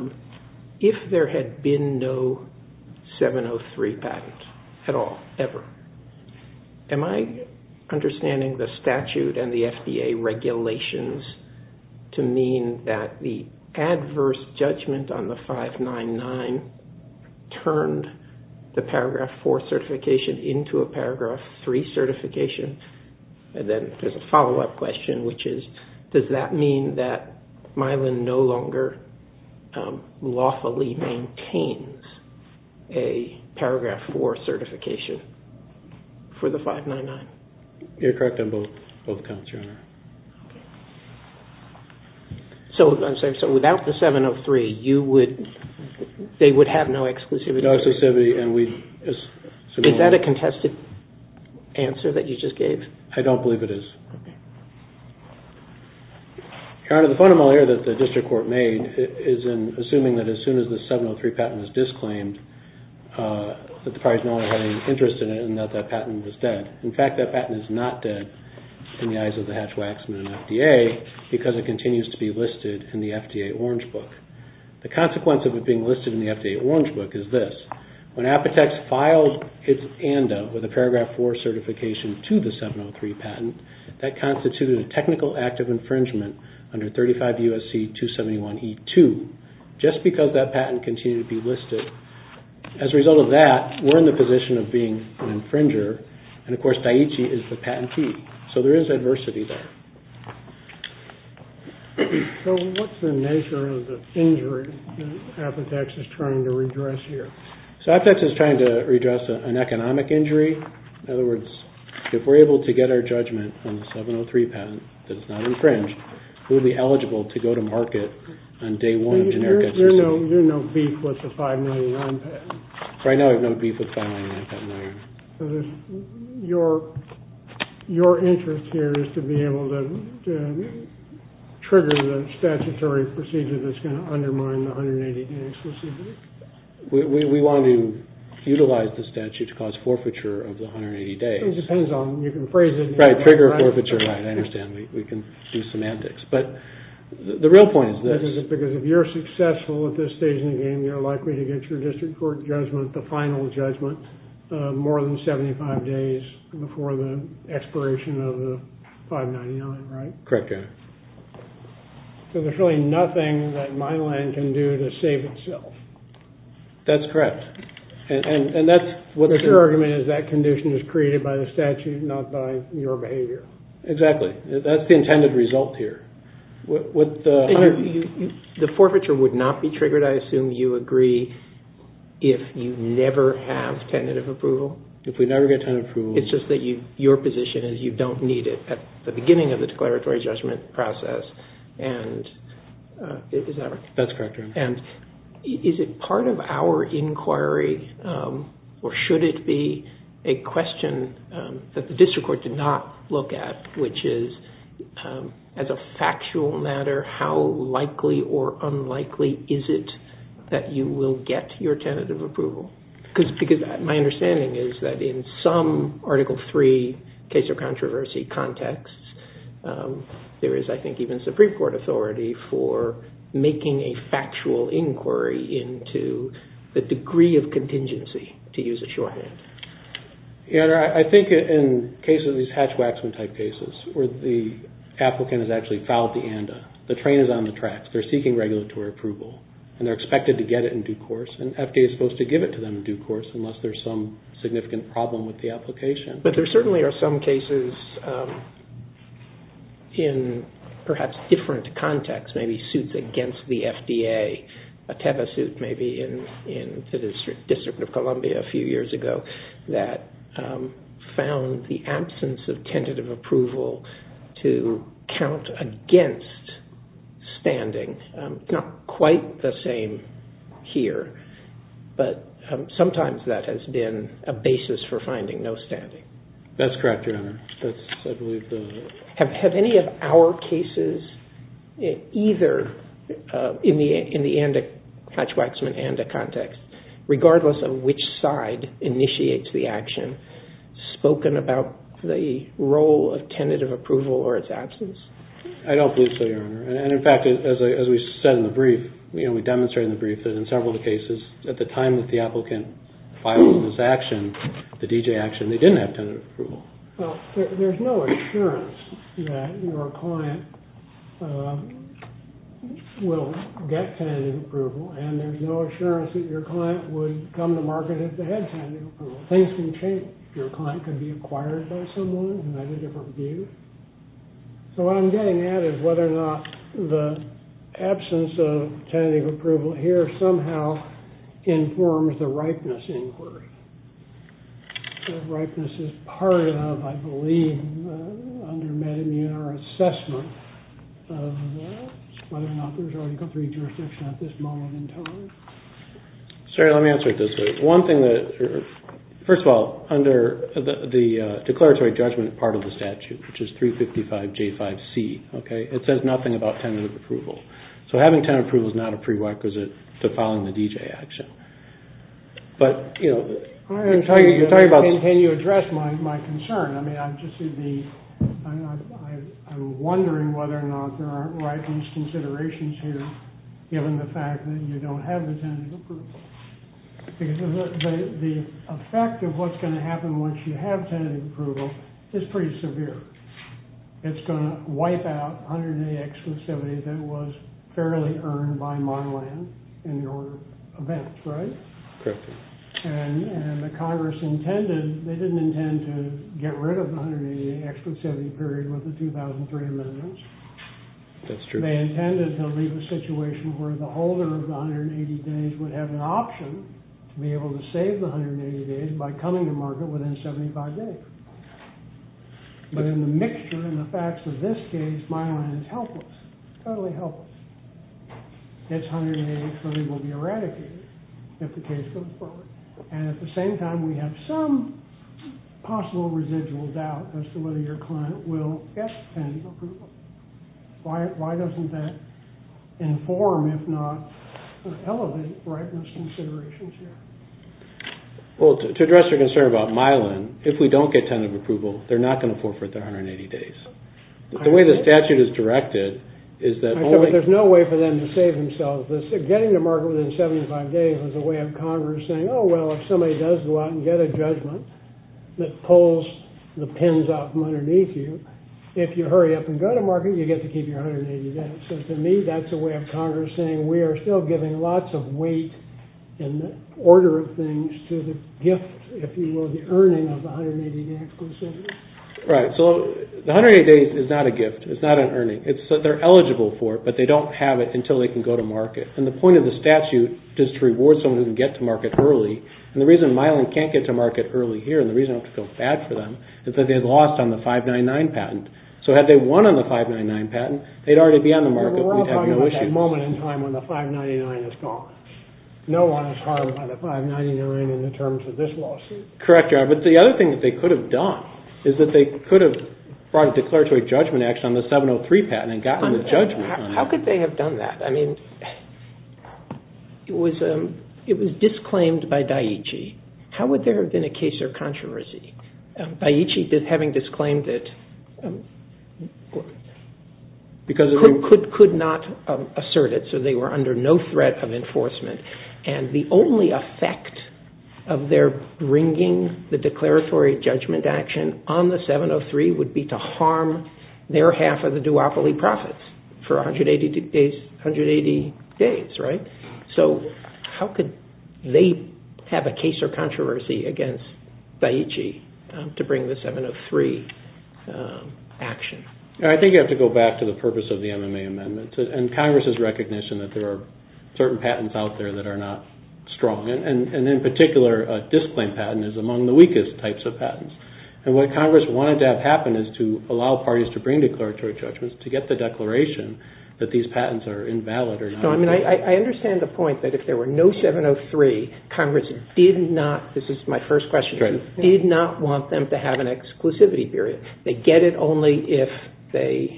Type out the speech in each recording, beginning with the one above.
This video was made in Cooperation with Shizuoka Prefecture Tourism Promotion Division. This video was made in Cooperation with Shizuoka Prefecture Tourism Promotion Division. This video was made in Cooperation with Shizuoka Prefecture Tourism Promotion Division. This video was made in Cooperation with Shizuoka Prefecture Tourism Promotion Division. This video was made in Cooperation with Shizuoka Prefecture Tourism Promotion Division. Am I understanding the statute and the FDA regulations to mean that the adverse judgment on the 599 turned the paragraph 4 certification into a paragraph 3 certification? Does that mean that Milan no longer lawfully maintains a paragraph 4 certification for the 599? You're correct on both counts, Your Honor. So without the 703, they would have no exclusivity? Is that a contested answer that you just gave? I don't believe it is. Your Honor, the fundamental error that the district court made is in assuming that as soon as the 703 patent is disclaimed, that the private owner had any interest in it and that that patent was dead. In fact, that patent is not dead in the eyes of the Hatch-Waxman and FDA because it continues to be listed in the FDA Orange Book. The consequence of it being listed in the FDA Orange Book is this. When Apotex filed its ANDA with a paragraph 4 certification to the 703 patent, that constituted a technical act of infringement under 35 U.S.C. 271E2. Just because that patent continued to be listed, as a result of that, we're in the position of being an infringer, and of course, Daiichi is the patentee. So there is adversity there. So what's the nature of the injury that Apotex is trying to redress here? So Apotex is trying to redress an economic injury. In other words, if we're able to get our judgment on the 703 patent that is not infringed, we would be eligible to go to market on day one of generic SEC. So you're no beef with the 599 patent? Right now, I have no beef with the 599 patent, Your Honor. Does that trigger the statutory procedure that's going to undermine the 180 days? We want to utilize the statute to cause forfeiture of the 180 days. It depends on, you can phrase it. Right, trigger forfeiture, right, I understand. We can do semantics. But the real point is this. Because if you're successful at this stage in the game, you're likely to get your district court judgment, the final judgment, more than 75 days before the expiration of the 599, right? Correct, Your Honor. So there's really nothing that my land can do to save itself. That's correct. And that's what the... But your argument is that condition is created by the statute, not by your behavior. Exactly. That's the intended result here. The forfeiture would not be triggered, I assume you agree, if you never have tentative approval? If we never get tentative approval. It's just that your position is you don't need it at the beginning of the declaratory judgment process. That's correct, Your Honor. And is it part of our inquiry, or should it be a question that the district court did not look at, which is, as a factual matter, how likely or unlikely is it that you will get your tentative approval? Because my understanding is that in some Article III case or controversy context, there is, I think, even Supreme Court authority for making a factual inquiry into the degree of contingency, to use a shorthand. Your Honor, I think in cases, these Hatch-Waxman type cases, where the applicant has actually fouled the ANDA, the train is on the tracks, they're seeking regulatory approval, and they're expected to get it in due course, and FDA is supposed to give it to them in due course, unless there's some significant problem with the application. But there certainly are some cases in perhaps different contexts, maybe suits against the FDA, a Teva suit maybe in the District of Columbia a few years ago, that found the absence of tentative approval to count against standing. Not quite the same here, but sometimes that has been a basis for finding no standing. That's correct, Your Honor. Have any of our cases, either in the Hatch-Waxman, ANDA context, regardless of which side initiates the action, spoken about the role of tentative approval or its absence? I don't believe so, Your Honor. And in fact, as we said in the brief, we demonstrated in the brief that in several of the cases, at the time that the applicant filed this action, the D.J. action, they didn't have tentative approval. Well, there's no assurance that your client will get tentative approval, and there's no assurance that your client would come to market if they had tentative approval. Things can change. Your client can be acquired by someone who has a different view. So what I'm getting at is whether or not the absence of tentative approval here somehow informs the ripeness inquiry. Ripeness is part of, I believe, under meta-immune or assessment of whether or not there's already complete jurisdiction at this moment in time. Sir, let me answer it this way. First of all, under the declaratory judgment part of the statute, which is 355J5C, it says nothing about tentative approval. So having tentative approval is not a prerequisite to filing the D.J. action. Can you address my concern? I'm wondering whether or not there aren't ripeness considerations here, given the fact that you don't have the tentative approval. Because the effect of what's going to happen once you have tentative approval is pretty severe. It's going to wipe out 108 exclusivity that was fairly earned by Monland in your event, right? Correct. And the Congress intended, they didn't intend to get rid of the 180 exclusivity period with the 2003 amendments. That's true. They intended to leave a situation where the holder of the 180 days would have an option to be able to save the 180 days by coming to market within 75 days. But in the mixture, in the facts of this case, Monland is helpless, totally helpless. It's 180, so they will be eradicated if the case goes forward. And at the same time, we have some possible residual doubt as to whether your client will get tentative approval. Why doesn't that inform, if not elevate, ripeness considerations here? Well, to address your concern about Mylan, if we don't get tentative approval, they're not going to forfeit their 180 days. The way the statute is directed is that only— I know, but there's no way for them to save themselves. Getting to market within 75 days was a way of Congress saying, oh, well, if somebody does go out and get a judgment that pulls the pins out from underneath you, if you hurry up and go to market, you get to keep your 180 days. So to me, that's a way of Congress saying we are still giving lots of weight in the order of things to the gift, if you will, the earning of the 180 days. Right, so the 180 days is not a gift. It's not an earning. They're eligible for it, but they don't have it until they can go to market. And the point of the statute is to reward someone who can get to market early. And the reason Mylan can't get to market early here, and the reason I don't feel bad for them, is that they lost on the 599 patent. So had they won on the 599 patent, they'd already be on the market. We're talking about that moment in time when the 599 is gone. No one is harmed by the 599 in the terms of this lawsuit. Correct, but the other thing that they could have done is that they could have brought a declaratory judgment action on the 703 patent and gotten the judgment. How could they have done that? I mean, it was disclaimed by Daiichi. How would there have been a case of controversy? Daiichi, having disclaimed it, could not assert it, so they were under no threat of enforcement. And the only effect of their bringing the declaratory judgment action on the 703 would be to harm their half of the duopoly profits for 180 days, right? So how could they have a case of controversy against Daiichi to bring the 703 action? I think you have to go back to the purpose of the MMA amendment and Congress's recognition that there are certain patents out there that are not strong. And in particular, a disclaimed patent is among the weakest types of patents. And what Congress wanted to have happen is to allow parties to bring declaratory judgments to get the declaration that these patents are invalid or not. I understand the point that if there were no 703, Congress did not, this is my first question, did not want them to have an exclusivity period. They get it only if they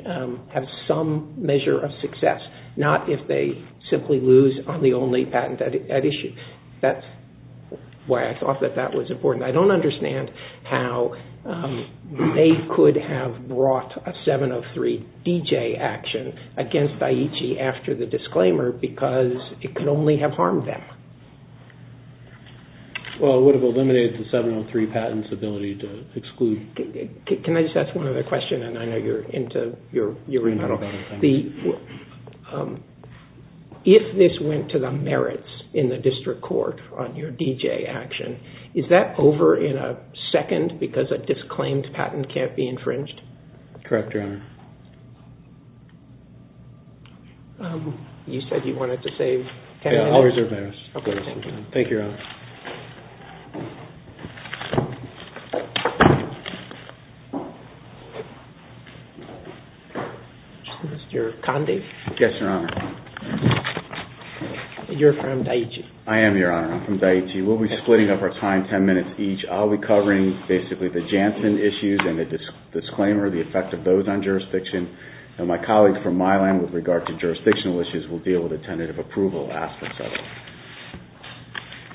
have some measure of success, not if they simply lose on the only patent at issue. That's why I thought that that was important. I don't understand how they could have brought a 703 DJ action against Daiichi after the disclaimer because it could only have harmed them. Well, it would have eliminated the 703 patent's ability to exclude. Can I just ask one other question? And I know you're into your remittal. If this went to the merits in the district court on your DJ action, is that over in a second because a disclaimed patent can't be infringed? Correct, Your Honor. You said you wanted to save ten minutes. I'll reserve ten minutes. Thank you, Your Honor. Mr. Conde. Yes, Your Honor. You're from Daiichi. I am, Your Honor. I'm from Daiichi. We'll be splitting up our time ten minutes each. I'll be covering basically the Janssen issues and the disclaimer, the effect of those on jurisdiction. And my colleagues from Milan with regard to jurisdictional issues will deal with the tentative approval aspects of it.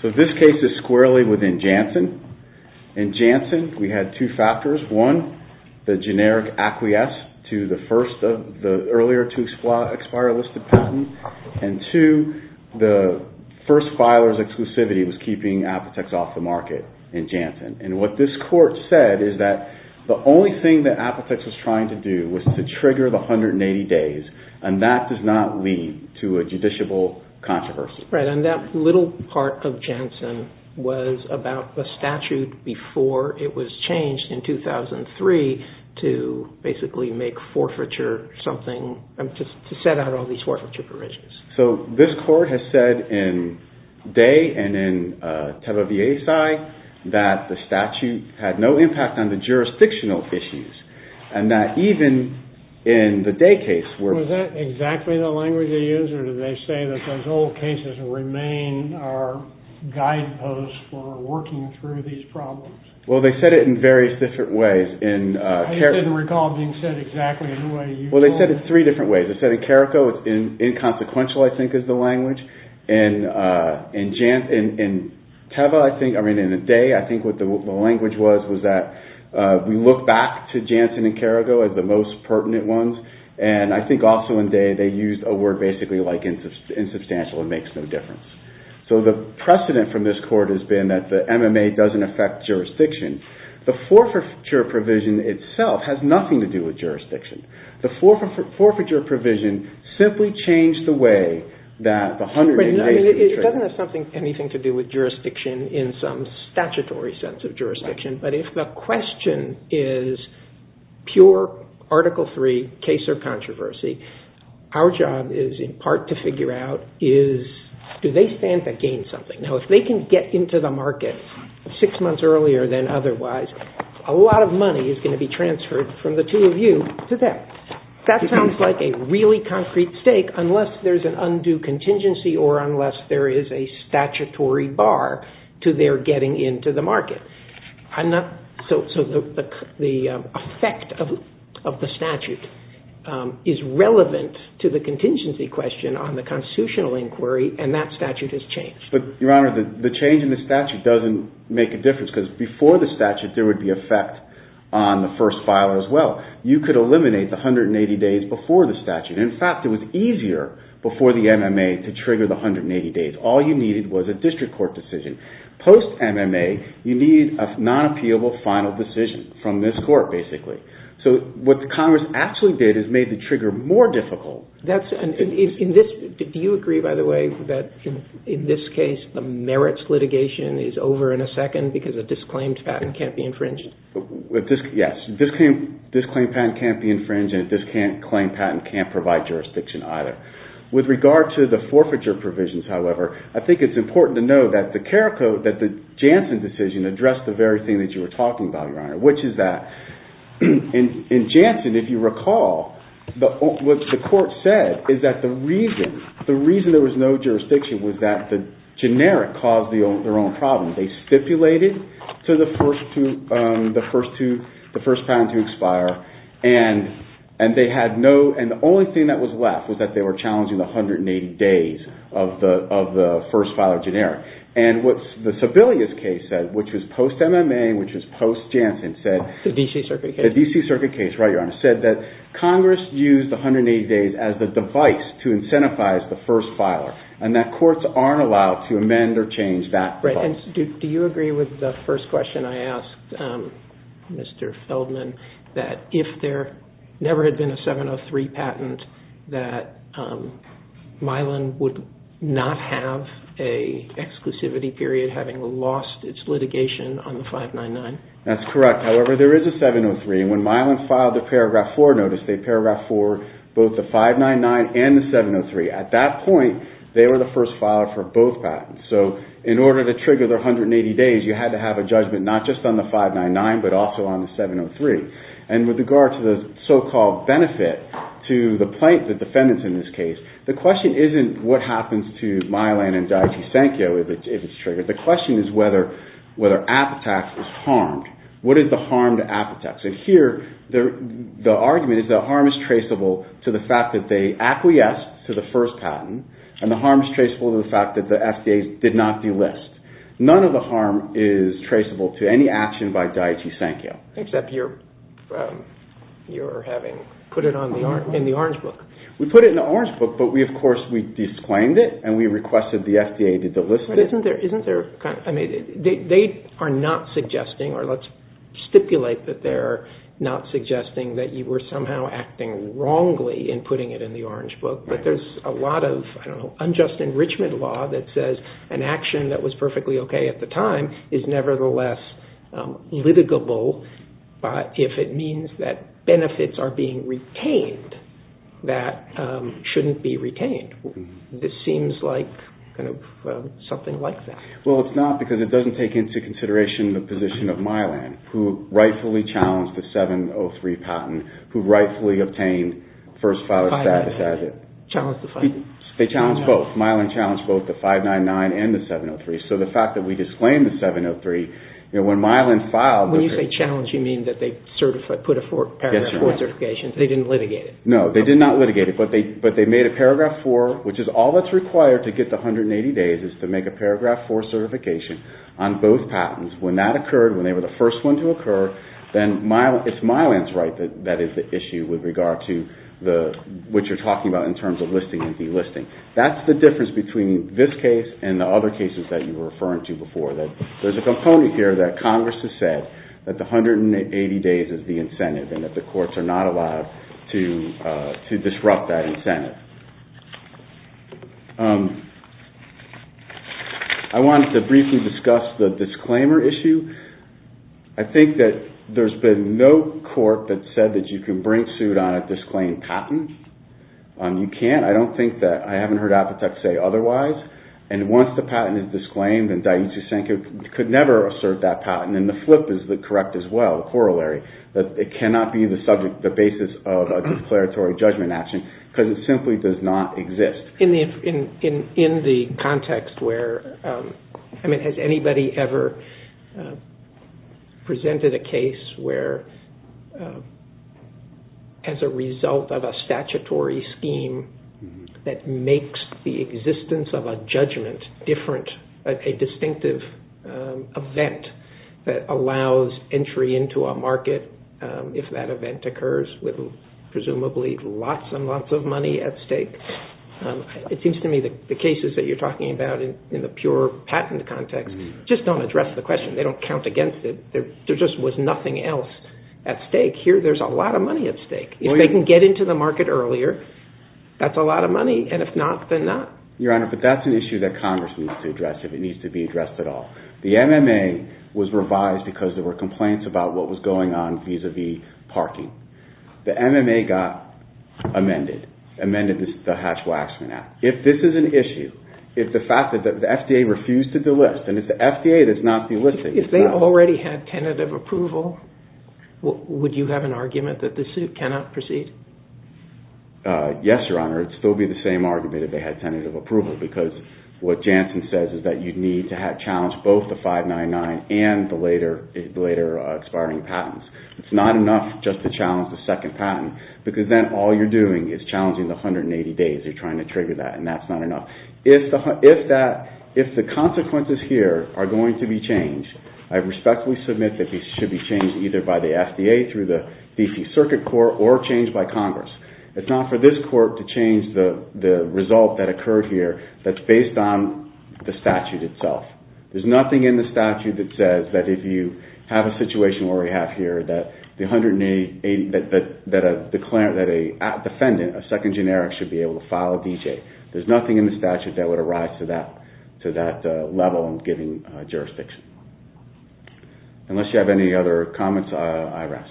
So this case is squarely within Janssen. In Janssen, we had two factors. One, the generic acquiesce to the first of the earlier to expire listed patent. And two, the first filer's exclusivity was keeping Apotex off the market in Janssen. And what this court said is that the only thing that Apotex was trying to do was to trigger the 180 days, and that does not lead to a judiciable controversy. Right, and that little part of Janssen was about the statute before it was changed in 2003 to basically make forfeiture something, to set out all these forfeiture provisions. So this court has said in Dai and in Teba Viesai that the statute had no impact on the jurisdictional issues, and that even in the Dai case where... Was that exactly the language they used, or did they say that those old cases remain our guideposts for working through these problems? Well, they said it in various different ways. I just didn't recall it being said exactly the way you told it. Well, they said it three different ways. They said in Carrico it's inconsequential, I think, is the language. In Teba, I think, I mean, in the Dai, I think what the language was was that we look back to Janssen and Carrico as the most pertinent ones. And I think also in Dai they used a word basically like insubstantial, it makes no difference. So the precedent from this court has been that the MMA doesn't affect jurisdiction. The forfeiture provision itself has nothing to do with jurisdiction. The forfeiture provision simply changed the way that the 100 United States... It doesn't have anything to do with jurisdiction in some statutory sense of jurisdiction, but if the question is pure Article III case or controversy, our job is in part to figure out is do they stand to gain something. Now, if they can get into the market six months earlier than otherwise, a lot of money is going to be transferred from the two of you to them. That sounds like a really concrete stake unless there's an undue contingency or unless there is a statutory bar to their getting into the market. So the effect of the statute is relevant to the contingency question on the constitutional inquiry and that statute has changed. Your Honor, the change in the statute doesn't make a difference because before the statute there would be effect on the first file as well. You could eliminate the 180 days before the statute. In fact, it was easier before the MMA to trigger the 180 days. All you needed was a district court decision. Post-MMA, you need a non-appealable final decision from this court, basically. So what the Congress actually did is made the trigger more difficult. Do you agree, by the way, that in this case the merits litigation is over in a second because a disclaimed patent can't be infringed? Yes. A disclaimed patent can't be infringed and a disclaimed patent can't provide jurisdiction either. With regard to the forfeiture provisions, however, I think it's important to know that the care code, that the Janssen decision addressed the very thing that you were talking about, Your Honor, which is that in Janssen, if you recall, what the court said is that the reason there was no jurisdiction was that the generic caused their own problem. And the only thing that was left was that they were challenging the 180 days of the first filer generic. And what the Sebelius case said, which was post-MMA, which was post-Janssen, said that Congress used the 180 days as the device to incentivize the first filer and that courts aren't allowed to amend or change that clause. And do you agree with the first question I asked, Mr. Feldman, that if there never had been a 703 patent that Milan would not have an exclusivity period having lost its litigation on the 599? That's correct. However, there is a 703 and when Milan filed the Paragraph 4 notice, both the 599 and the 703, at that point, they were the first filer for both patents. So in order to trigger the 180 days, you had to have a judgment not just on the 599, but also on the 703. And with regard to the so-called benefit to the plaintiff, the defendants in this case, the question isn't what happens to Milan and Giotto Sanchio if it's triggered. The question is whether Apetax is harmed. What is the harm to Apetax? And here, the argument is the harm is traceable to the fact that they acquiesced to the first patent and the harm is traceable to the fact that the FDA did not delist. None of the harm is traceable to any action by Giotto Sanchio. Except you're having put it in the orange book. We put it in the orange book, but we, of course, we disclaimed it and we requested the FDA to delist it. They are not suggesting, or let's stipulate that they're not suggesting that you were somehow acting wrongly in putting it in the orange book. But there's a lot of unjust enrichment law that says an action that was perfectly okay at the time is nevertheless litigable if it means that benefits are being retained that shouldn't be retained. This seems like something like that. Well, it's not because it doesn't take into consideration the position of Milan, who rightfully challenged the 703 patent, who rightfully obtained first file status as it. They challenged both. Milan challenged both the 599 and the 703. So the fact that we disclaimed the 703, when Milan filed... When you say challenged, you mean that they put a Paragraph 4 certification, they didn't litigate it. No, they did not litigate it, but they made a Paragraph 4, which is all that's required to get the 180 days is to make a Paragraph 4 certification on both patents. When that occurred, when they were the first one to occur, then it's Milan's right that that is the issue with regard to what you're talking about in terms of listing and delisting. That's the difference between this case and the other cases that you were referring to before. There's a component here that Congress has said that the 180 days is the incentive and that the courts are not allowed to disrupt that incentive. I wanted to briefly discuss the disclaimer issue. I think that there's been no court that said that you can bring suit on a disclaimed patent. You can't. I don't think that... I haven't heard Apotek say otherwise. Once the patent is disclaimed, then Daiichi Senkou could never assert that patent. The flip is correct as well, the corollary, that it cannot be the basis of a declaratory judgment action because it simply does not exist. Has anybody ever presented a case where, as a result of a statute, a statutory scheme that makes the existence of a judgment different, a distinctive event that allows entry into a market if that event occurs with presumably lots and lots of money at stake? It seems to me that the cases that you're talking about in the pure patent context just don't address the question. They don't count against it. There just was nothing else at stake. Here, there's a lot of money at stake. If they can get into the market earlier, that's a lot of money, and if not, then not. Your Honor, but that's an issue that Congress needs to address if it needs to be addressed at all. The MMA was revised because there were complaints about what was going on vis-à-vis parking. The MMA got amended, amended the Hatch-Waxman Act. If this is an issue, if the FDA refused to delist, and if the FDA does not delist it... If they already had tentative approval, would you have an argument that the suit cannot proceed? Yes, Your Honor. It would still be the same argument if they had tentative approval because what Janssen says is that you need to challenge both the 599 and the later expiring patents. It's not enough just to challenge the second patent because then all you're doing is challenging the 180 days you're trying to trigger that, and that's not enough. If the consequences here are going to be changed, I respectfully submit that these should be changed either by the FDA through the D.C. Circuit Court or changed by Congress. It's not for this Court to change the result that occurred here that's based on the statute itself. There's nothing in the statute that says that if you have a situation where we have here that a defendant, a second generic, should be able to file a D.J. There's nothing in the statute that would arise to that level in a given jurisdiction. Unless you have any other comments, I rest.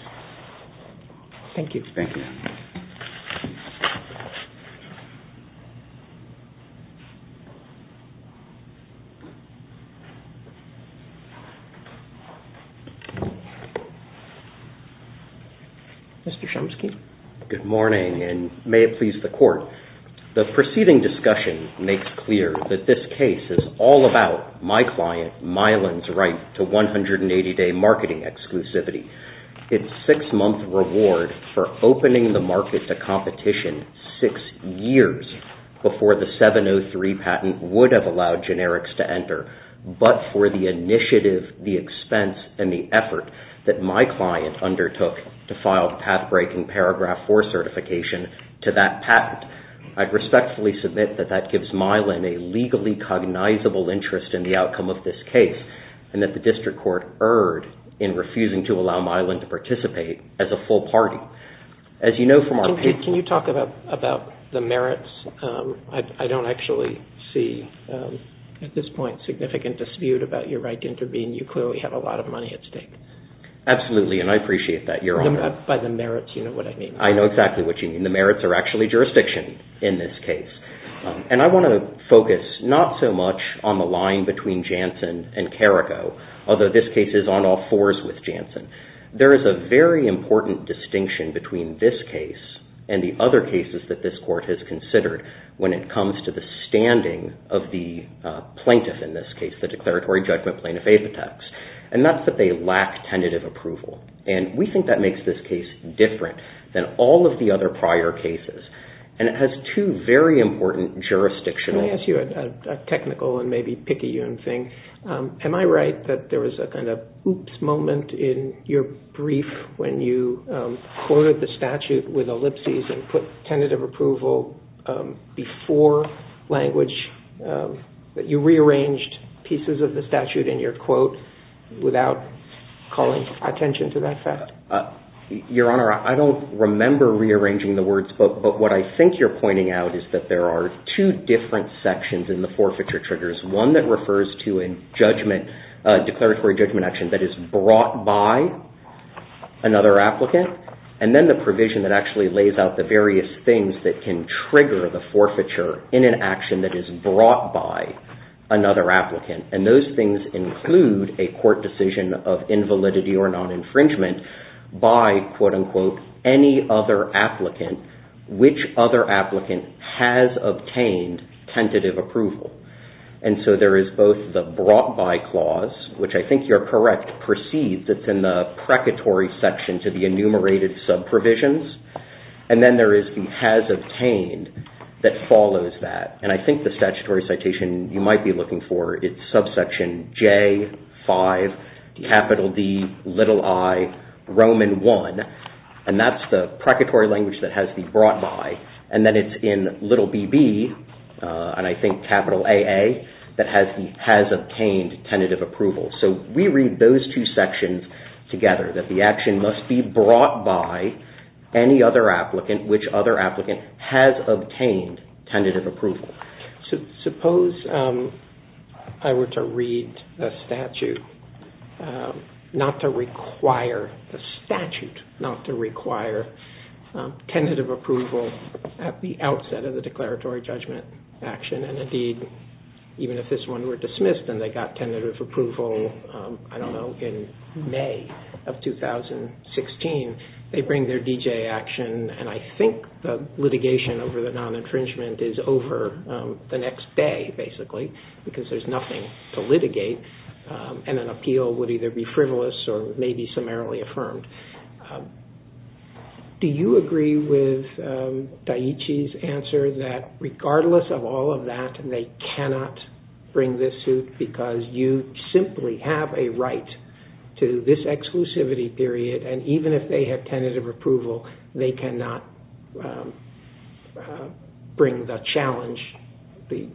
Mr. Chomsky. Good morning, and may it please the Court. The preceding discussion makes clear that this case is all about my client Mylan's right to 180-day marketing exclusivity. Its six-month reward for opening the market to competition six years before the 703 patent would have allowed generics to enter, but for the initiative, the expense, and the effort that my client undertook to file a path-breaking paragraph IV certification to that patent. I respectfully submit that that gives Mylan a legally cognizable interest in the outcome of this case and that the District Court erred in refusing to allow Mylan to participate as a full party. Can you talk about the merits? I don't actually see at this point significant dispute about your right to intervene. You clearly have a lot of money at stake. Absolutely, and I appreciate that, Your Honor. By the merits, you know what I mean. I know exactly what you mean. The merits are actually jurisdiction in this case. I want to focus not so much on the line between Janssen and Carrico, although this case is on all fours with Janssen. There is a very important distinction between this case and the other cases that this Court has considered when it comes to the standing of the plaintiff in this case, the Declaratory Judgment Plaintiff Apothex, and that's that they lack tentative approval. And we think that makes this case different than all of the other prior cases. And it has two very important jurisdictional... Can I ask you a technical and maybe picayune thing? Am I right that there was a kind of oops moment in your brief when you quoted the statute with ellipses and put tentative approval before language, that you rearranged pieces of the statute in your quote without calling attention to that fact? Your Honor, I don't remember rearranging the words, but what I think you're pointing out is that there are two different sections in the forfeiture triggers. One that refers to a declaratory judgment action that is brought by another applicant, and then the provision that actually lays out the various things that can trigger the forfeiture in an action that is brought by another applicant. And those things include a court decision of invalidity or non-infringement by, quote unquote, any other applicant, which other applicant has obtained tentative approval. And so there is both the brought by clause, which I think you're correct, precedes, it's in the precatory section to the enumerated sub-provisions, and then there is the has obtained that follows that. And I think the statutory citation you might be looking for, it's subsection J5, capital D, little I, Roman I, and that's the precatory language that has the brought by. And then it's in little BB, and I think capital AA, that has the has obtained tentative approval. So we read those two sections together, that the action must be brought by any other applicant, which other applicant has obtained tentative approval. Suppose I were to read a statute that has tentative approval at the outset of the declaratory judgment action, and indeed, even if this one were dismissed and they got tentative approval, I don't know, in May of 2016, they bring their DJ action, and I think the litigation over the non-infringement is over the next day, basically, because there's nothing to litigate, and an appeal would either be frivolous or maybe summarily affirmed. Do you agree with Daiichi's answer that regardless of all of that, they cannot bring this suit because you simply have a right to this exclusivity period, and even if they have tentative approval, they cannot bring the challenge, the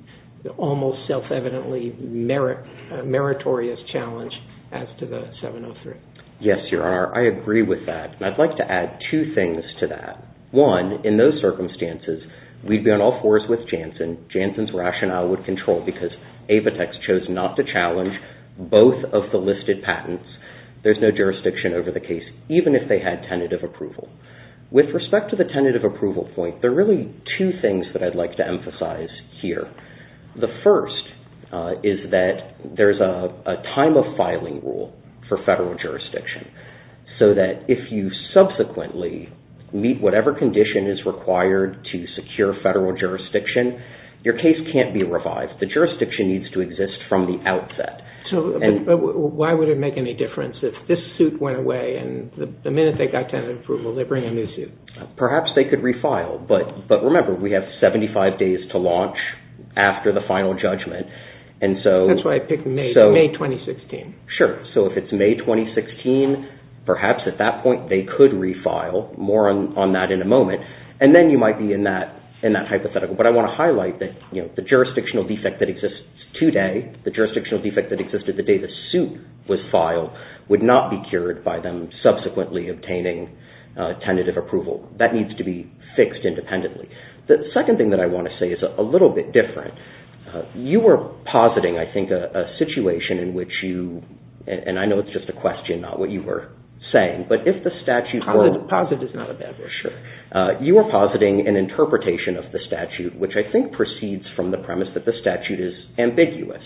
almost self-evidently meritorious challenge, as to the 703? Yes, Your Honor, I agree with that, and I'd like to add two things to that. One, in those circumstances, we'd be on all fours with Janssen. Janssen's rationale would control, because Apotex chose not to challenge both of the listed patents. There's no jurisdiction over the case, even if they had tentative approval. With respect to the tentative approval point, there are really two things that I'd like to emphasize here. The first is that there's a time-of-filing rule for federal jurisdiction, so that if you subsequently meet whatever condition is required to secure federal jurisdiction, your case can't be revived. The jurisdiction needs to exist from the outset. Why would it make any difference if this suit went away, and the minute they got tentative approval, they bring a new suit? Perhaps they could refile, but remember, we have 75 days to launch after the final judgment. That's why I picked May 2016. Sure, so if it's May 2016, perhaps at that point they could refile, more on that in a moment, and then you might be in that hypothetical. But I want to highlight that the jurisdictional defect that exists today, the jurisdictional defect that existed the day the suit was filed, would not be cured by them subsequently obtaining tentative approval. That needs to be fixed independently. The second thing that I want to say is a little bit different. You were positing, I think, a situation in which you, and I know it's just a question, not what you were saying, but if the statute were... A positive is not a bad word, sure. You were positing an interpretation of the statute, which I think proceeds from the premise that the statute is ambiguous.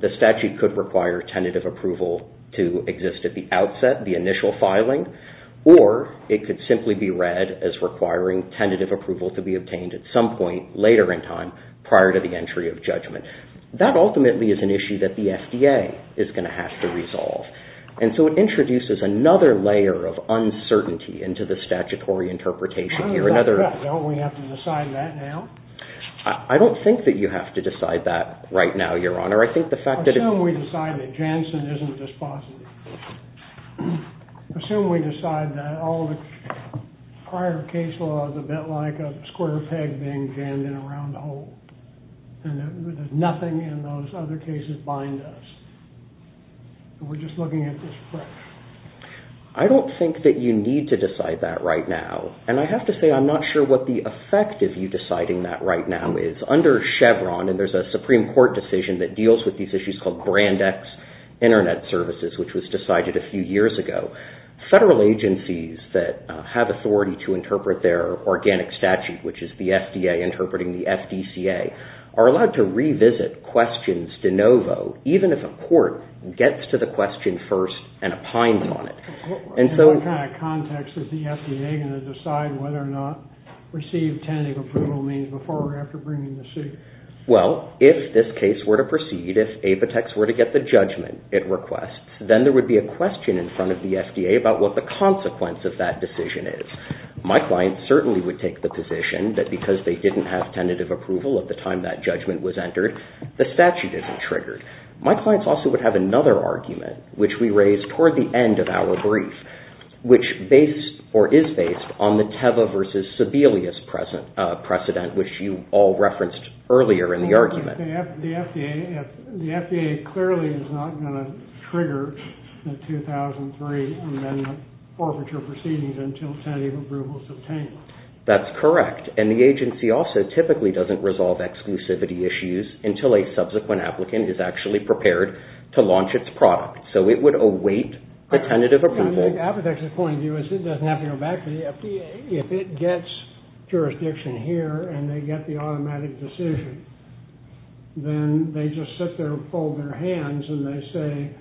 The statute could require tentative approval to exist at the outset, the initial filing, or it could simply be read as requiring tentative approval to be obtained at some point later in time, prior to the entry of judgment. That ultimately is an issue that the FDA is going to have to resolve. And so it introduces another layer of uncertainty into the statutory interpretation here. I don't think that we have to decide that now. I don't think that you have to decide that right now, Your Honor. I think the fact that... Assume we decide that Janssen isn't dispositive. Assume we decide that all the prior case law is a bit like a square peg being jammed in a round window. And we're just looking at this question. I don't think that you need to decide that right now. And I have to say, I'm not sure what the effect of you deciding that right now is. Under Chevron, and there's a Supreme Court decision that deals with these issues called Brand X Internet Services, which was decided a few years ago, federal agencies that have authority to interpret their organic statute, which is the FDA questions de novo, even if a court gets to the question first and opines on it. In what kind of context is the FDA going to decide whether or not received tentative approval means before or after bringing the suit? Well, if this case were to proceed, if Apotex were to get the judgment it requests, then there would be a question in front of the FDA about what the consequence of that decision is. My client certainly would take the position that because they didn't have tentative approval at the time that judgment was entered, the statute isn't triggered. My clients also would have another argument, which we raise toward the end of our brief, which is based on the Teva versus Sebelius precedent, which you all referenced earlier in the argument. The FDA clearly is not going to trigger the 2003 amendment forfeiture proceedings until tentative approval is obtained. That's correct. And the agency also typically doesn't resolve exclusivity issues until a subsequent applicant is actually prepared to launch its product. So it would await the tentative approval. Apotex's point of view is it doesn't have to go back to the FDA. If it gets jurisdiction here and they get the automatic decision, then they just sit there and fold their hands and they say,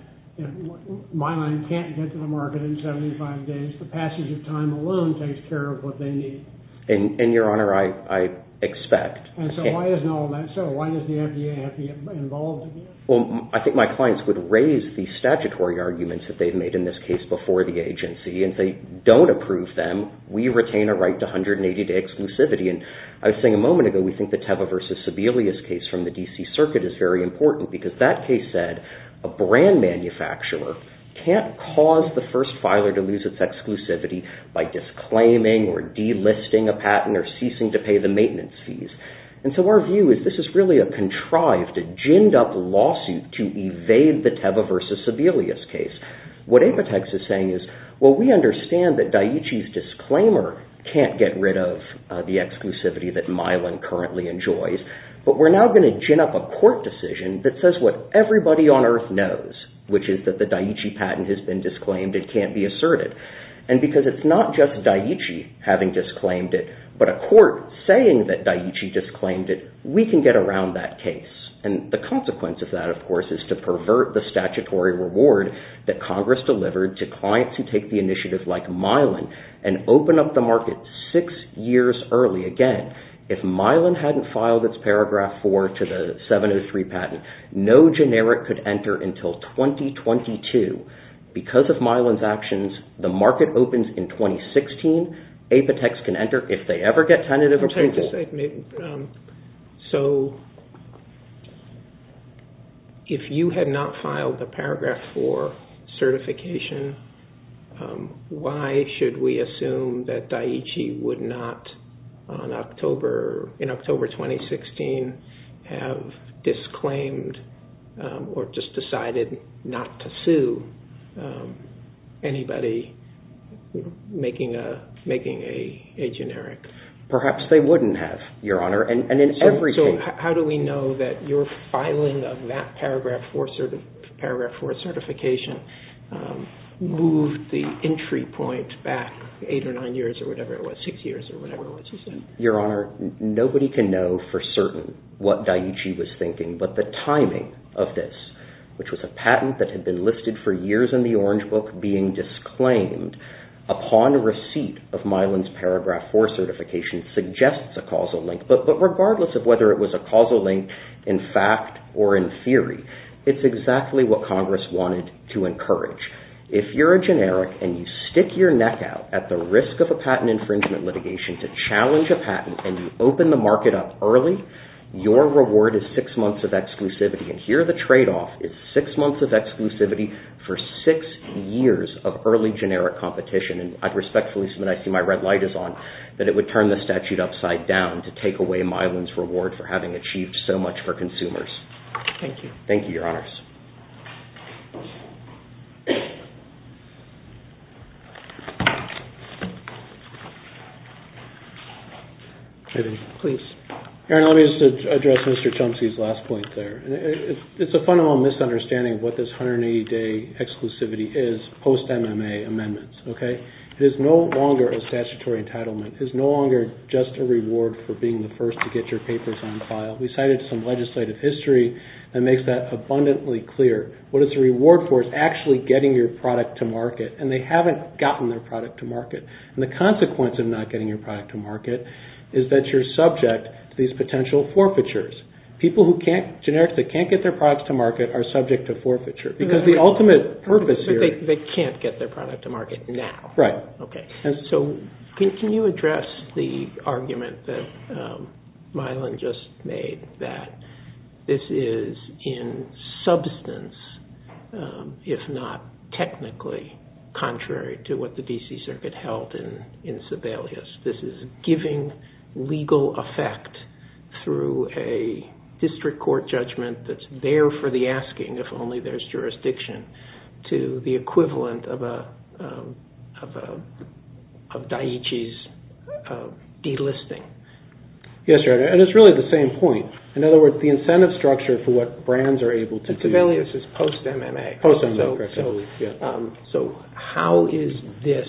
my line can't get to the market in 75 days. The passage of time alone takes care of what they need. And your honor, I expect. And so why isn't all of that so? Why does the FDA have to get involved? Well, I think my clients would raise the statutory arguments that they've made in this case before the agency. And if they don't approve them, we retain a right to 180-day exclusivity. And I was saying a moment ago, we think the Teva v. Sebelius case from the D.C. Circuit is very important because that case said a brand manufacturer can't cause the first filer to lose its exclusivity by disclaiming or delisting a patent or ceasing to pay the maintenance fees. And so our view is this is really a contrived, a ginned up lawsuit to evade the Teva v. Sebelius case. What Apotex is saying is, well, we understand that Daiichi's disclaimer can't get rid of the exclusivity that Mylan currently enjoys, but we're now going to gin up a court decision that says what everybody on earth knows, which is that the Daiichi patent has been disclaimed and can't be asserted. And because it's not just Daiichi having disclaimed it, but a court saying that Daiichi disclaimed it, we can get around that case. And the consequence of that, of course, is to pervert the statutory reward that Congress delivered to clients who take the initiative like Mylan and open up the market six years early again. If Mylan hadn't filed its paragraph four to the 703 patent, no generic could enter until 2022. Because of Mylan's actions, the market opens in 2016. Apotex can enter if they ever get tentative approval. So if you had not filed the paragraph four certification, why should we assume that Daiichi would not, in October 2016, have disclaimed or just decided not to sue anybody making a generic? Perhaps they wouldn't have, Your Honor. So how do we know that your filing of that paragraph four certification moved the entry point back eight or nine years or whatever it was, six years or whatever it was you said? Your Honor, nobody can know for certain what Daiichi was thinking, but the timing of this, which was a patent that had been listed for years in the Orange Book being disclaimed upon receipt of Mylan's paragraph four certification suggests a causal link. But regardless of whether it was a causal link in fact or in theory, it's exactly what Congress wanted to encourage. If you're a generic and you stick your neck out at the risk of a patent infringement litigation to challenge a patent and you open the case, it's six months of exclusivity for six years of early generic competition. And I'd respectfully submit, I see my red light is on, that it would turn the statute upside down to take away Mylan's reward for having achieved so much for consumers. Thank you, Your Honors. Please. Aaron, let me just address Mr. Chumsey's last point there. It's a fundamental misunderstanding of what this 180-day exclusivity is post-MMA amendments. It is no longer a statutory entitlement. It is no longer just a reward for being the first to get your papers on file. We cited some legislative history that makes that abundantly clear. What it's a reward for is actually getting your product to market. And they haven't gotten their product to market. And the consequence of not getting your product to market is that you're subject to these potential forfeitures. People who can't, generics that can't get their products to market are subject to forfeiture. Because the ultimate purpose here- They can't get their product to market now. Right. Okay. So can you address the existence, if not technically, contrary to what the D.C. Circuit held in Sibelius? This is giving legal effect through a district court judgment that's there for the asking, if only there's jurisdiction, to the equivalent of Daiichi's delisting. Yes. And it's really the same point. In other words, the incentive structure for what brands are able to- Sibelius is post-MMA. Post-MMA. Correct. So how is this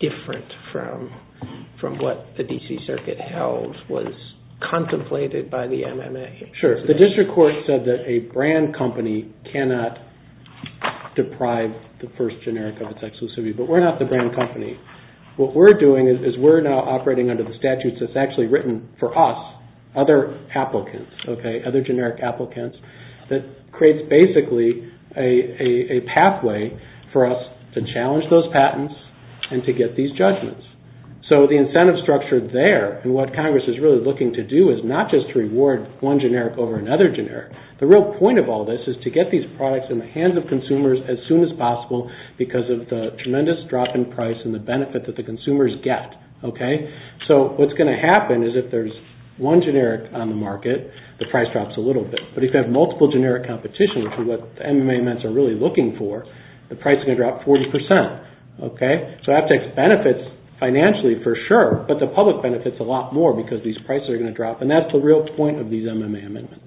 different from what the D.C. Circuit held was contemplated by the MMA? Sure. The district court said that a brand company cannot deprive the first generic of its exclusivity. But we're not the brand company. What we're doing is we're now operating under the statutes that's actually written for us, other applicants, other generic applicants, that creates basically a pathway for us to challenge those patents and to get these judgments. So the incentive structure there and what Congress is really looking to do is not just reward one generic over another generic. The real point of all this is to get these products in the hands of consumers as soon as possible because of the tremendous drop in price and the benefit that the consumers get. So what's going to happen is if there's one generic on the market, the price drops a little bit. But if you have multiple generic competition, which is what MMA amendments are really looking for, the price is going to drop 40%. So that takes benefits financially for sure, but the public benefits a lot more because these prices are going to drop. And that's the real point of these MMA amendments.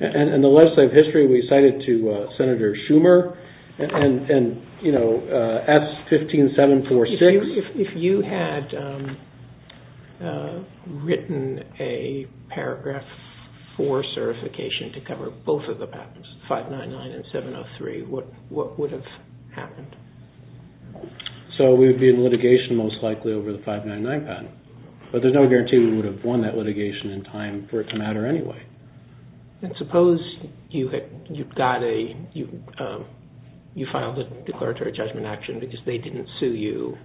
In the legislative history, we cited to Senator Schumer and S15746. If you had written a paragraph 4 certification to cover both of the patents, 599 and 703, what would have happened? So we would be in litigation most likely over the 599 patent. But there's no guarantee we would have won that litigation in time for it to matter anyway. And suppose you filed a declaratory judgment action because they didn't sue you,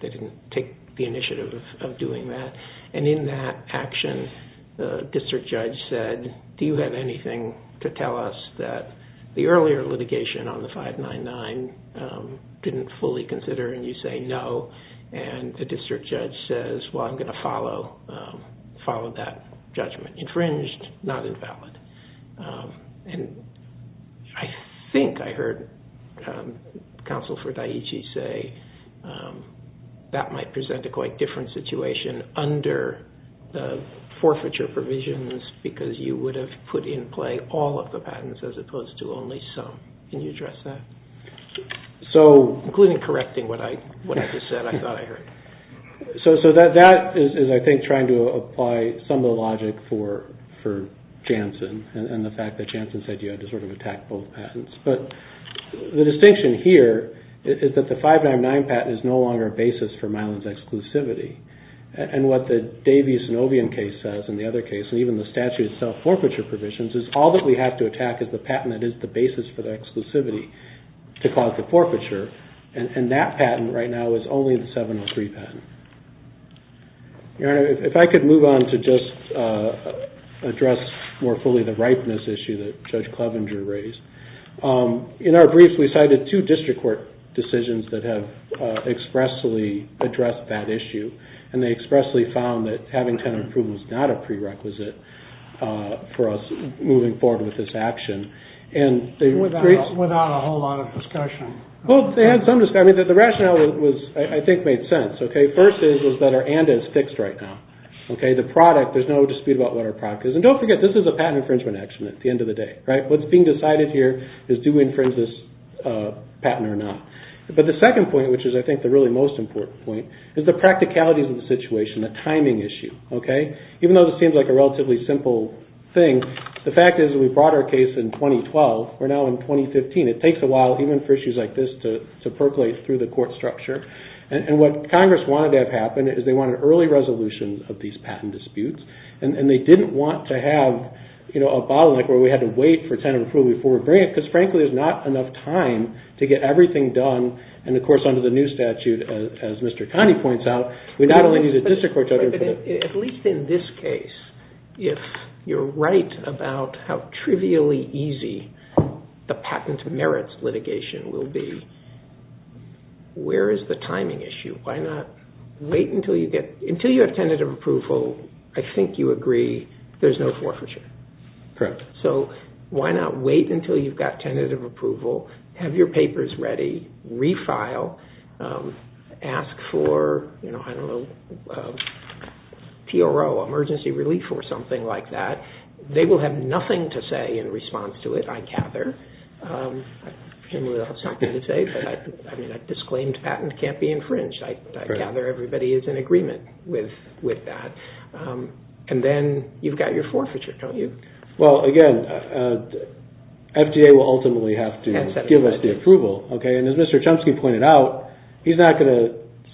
they didn't take the initiative of doing that. And in that action, the district judge said, do you have anything to tell us that the earlier litigation on the 599 didn't fully consider and you say no? And the district judge says, well, I'm going to follow that judgment. Infringed, not invalid. I think I heard Counsel for Daiichi say that might present a quite different situation under the forfeiture provisions because you would have put in play all of the patents as opposed to only some. Can you address that? Including correcting what I just said, I thought I heard. So that is, I think, trying to apply some of the logic for Jansen and the fact that Jansen said you had to sort of attack both patents. But the distinction here is that the Davies-Novian case says, and the other case, and even the statute itself, forfeiture provisions is all that we have to attack is the patent that is the basis for the exclusivity to cause the forfeiture. And that patent right now is only the 703 patent. If I could move on to just address more fully the ripeness issue that Judge Clevenger raised. In our briefs, we cited two district court decisions that have expressly addressed that issue. And they expressly found that having tenant approval is not a prerequisite for us moving forward with this action. Without a whole lot of discussion. The rationale, I think, made sense. First is that our ANDA is fixed right now. The product, there is no dispute about what our product is. And don't forget, this is a patent infringement action at the end of the day. What's being decided here is do we infringe this patent or not. But the second point, which is I think the really most important point, is the practicalities of the situation, the timing issue. Even though this seems like a relatively simple thing, the fact is we brought our case in 2012. We're now in 2015. It takes a while, even for issues like this, to percolate through the court structure. And what Congress wanted to have happen is they wanted early resolutions of these patent disputes. And they didn't want to have a bottleneck where we had to wait for tenant approval before we bring it. Because, frankly, there's not enough time to get everything done. And, of course, under the new statute, as Mr. Connie points out, we not only need a district court judgment. At least in this case, if you're right about how trivially easy the patent merits litigation will be, where is the timing issue? Until you have tentative approval, I think you agree there's no forfeiture. So why not wait until you've got tentative approval, have your papers ready, refile, ask for, I don't know, TRO, emergency relief or something like that. They will have nothing to say in response to it, I gather. I mean, a disclaimed patent can't be infringed. I gather everybody is in agreement with that. And then you've got your forfeiture, don't you? Well, again, FDA will ultimately have to give us the approval. And as Mr. Chomsky pointed out, he's not going to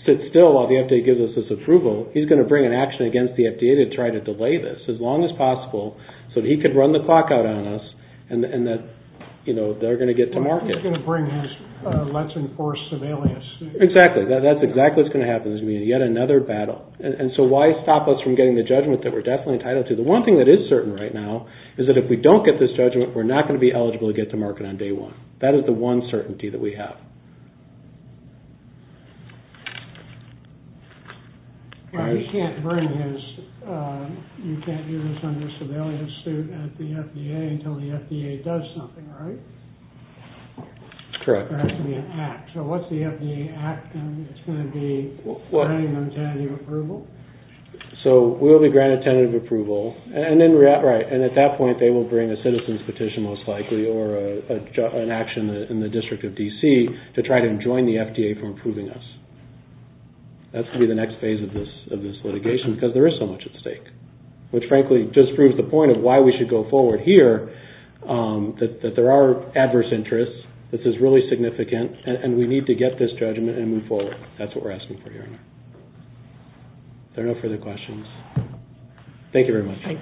sit still while the FDA gives us this approval. He's going to bring an action against the FDA to try to delay this as long as possible so that he can run the clock out on us and that they're going to get to market. He's going to bring his let's enforce some alias. Exactly. That's exactly what's going to happen. There's going to be yet another battle. And so why stop us from getting the judgment that we're definitely entitled to? The one thing that is certain right now is that if we don't get this judgment, we're not going to be eligible to get to market on day one. That is the one certainty that we have. You can't bring his, you can't do this under civilian suit at the FDA until the FDA does something, right? Correct. There has to be an act. So what's the FDA act? It's going to be granting them tentative approval. So we'll be granted tentative approval. And at that point, they will bring a citizen's petition, most likely, or an action in the District of D.C. to try to enjoin the FDA from approving us. That's going to be the next phase of this litigation because there is so much at stake, which frankly just proves the point of why we should go forward here. That there are adverse interests. This is really significant. And we need to get this judgment and move forward. That's what we're asking for here. Are there no further questions? Thank you very much.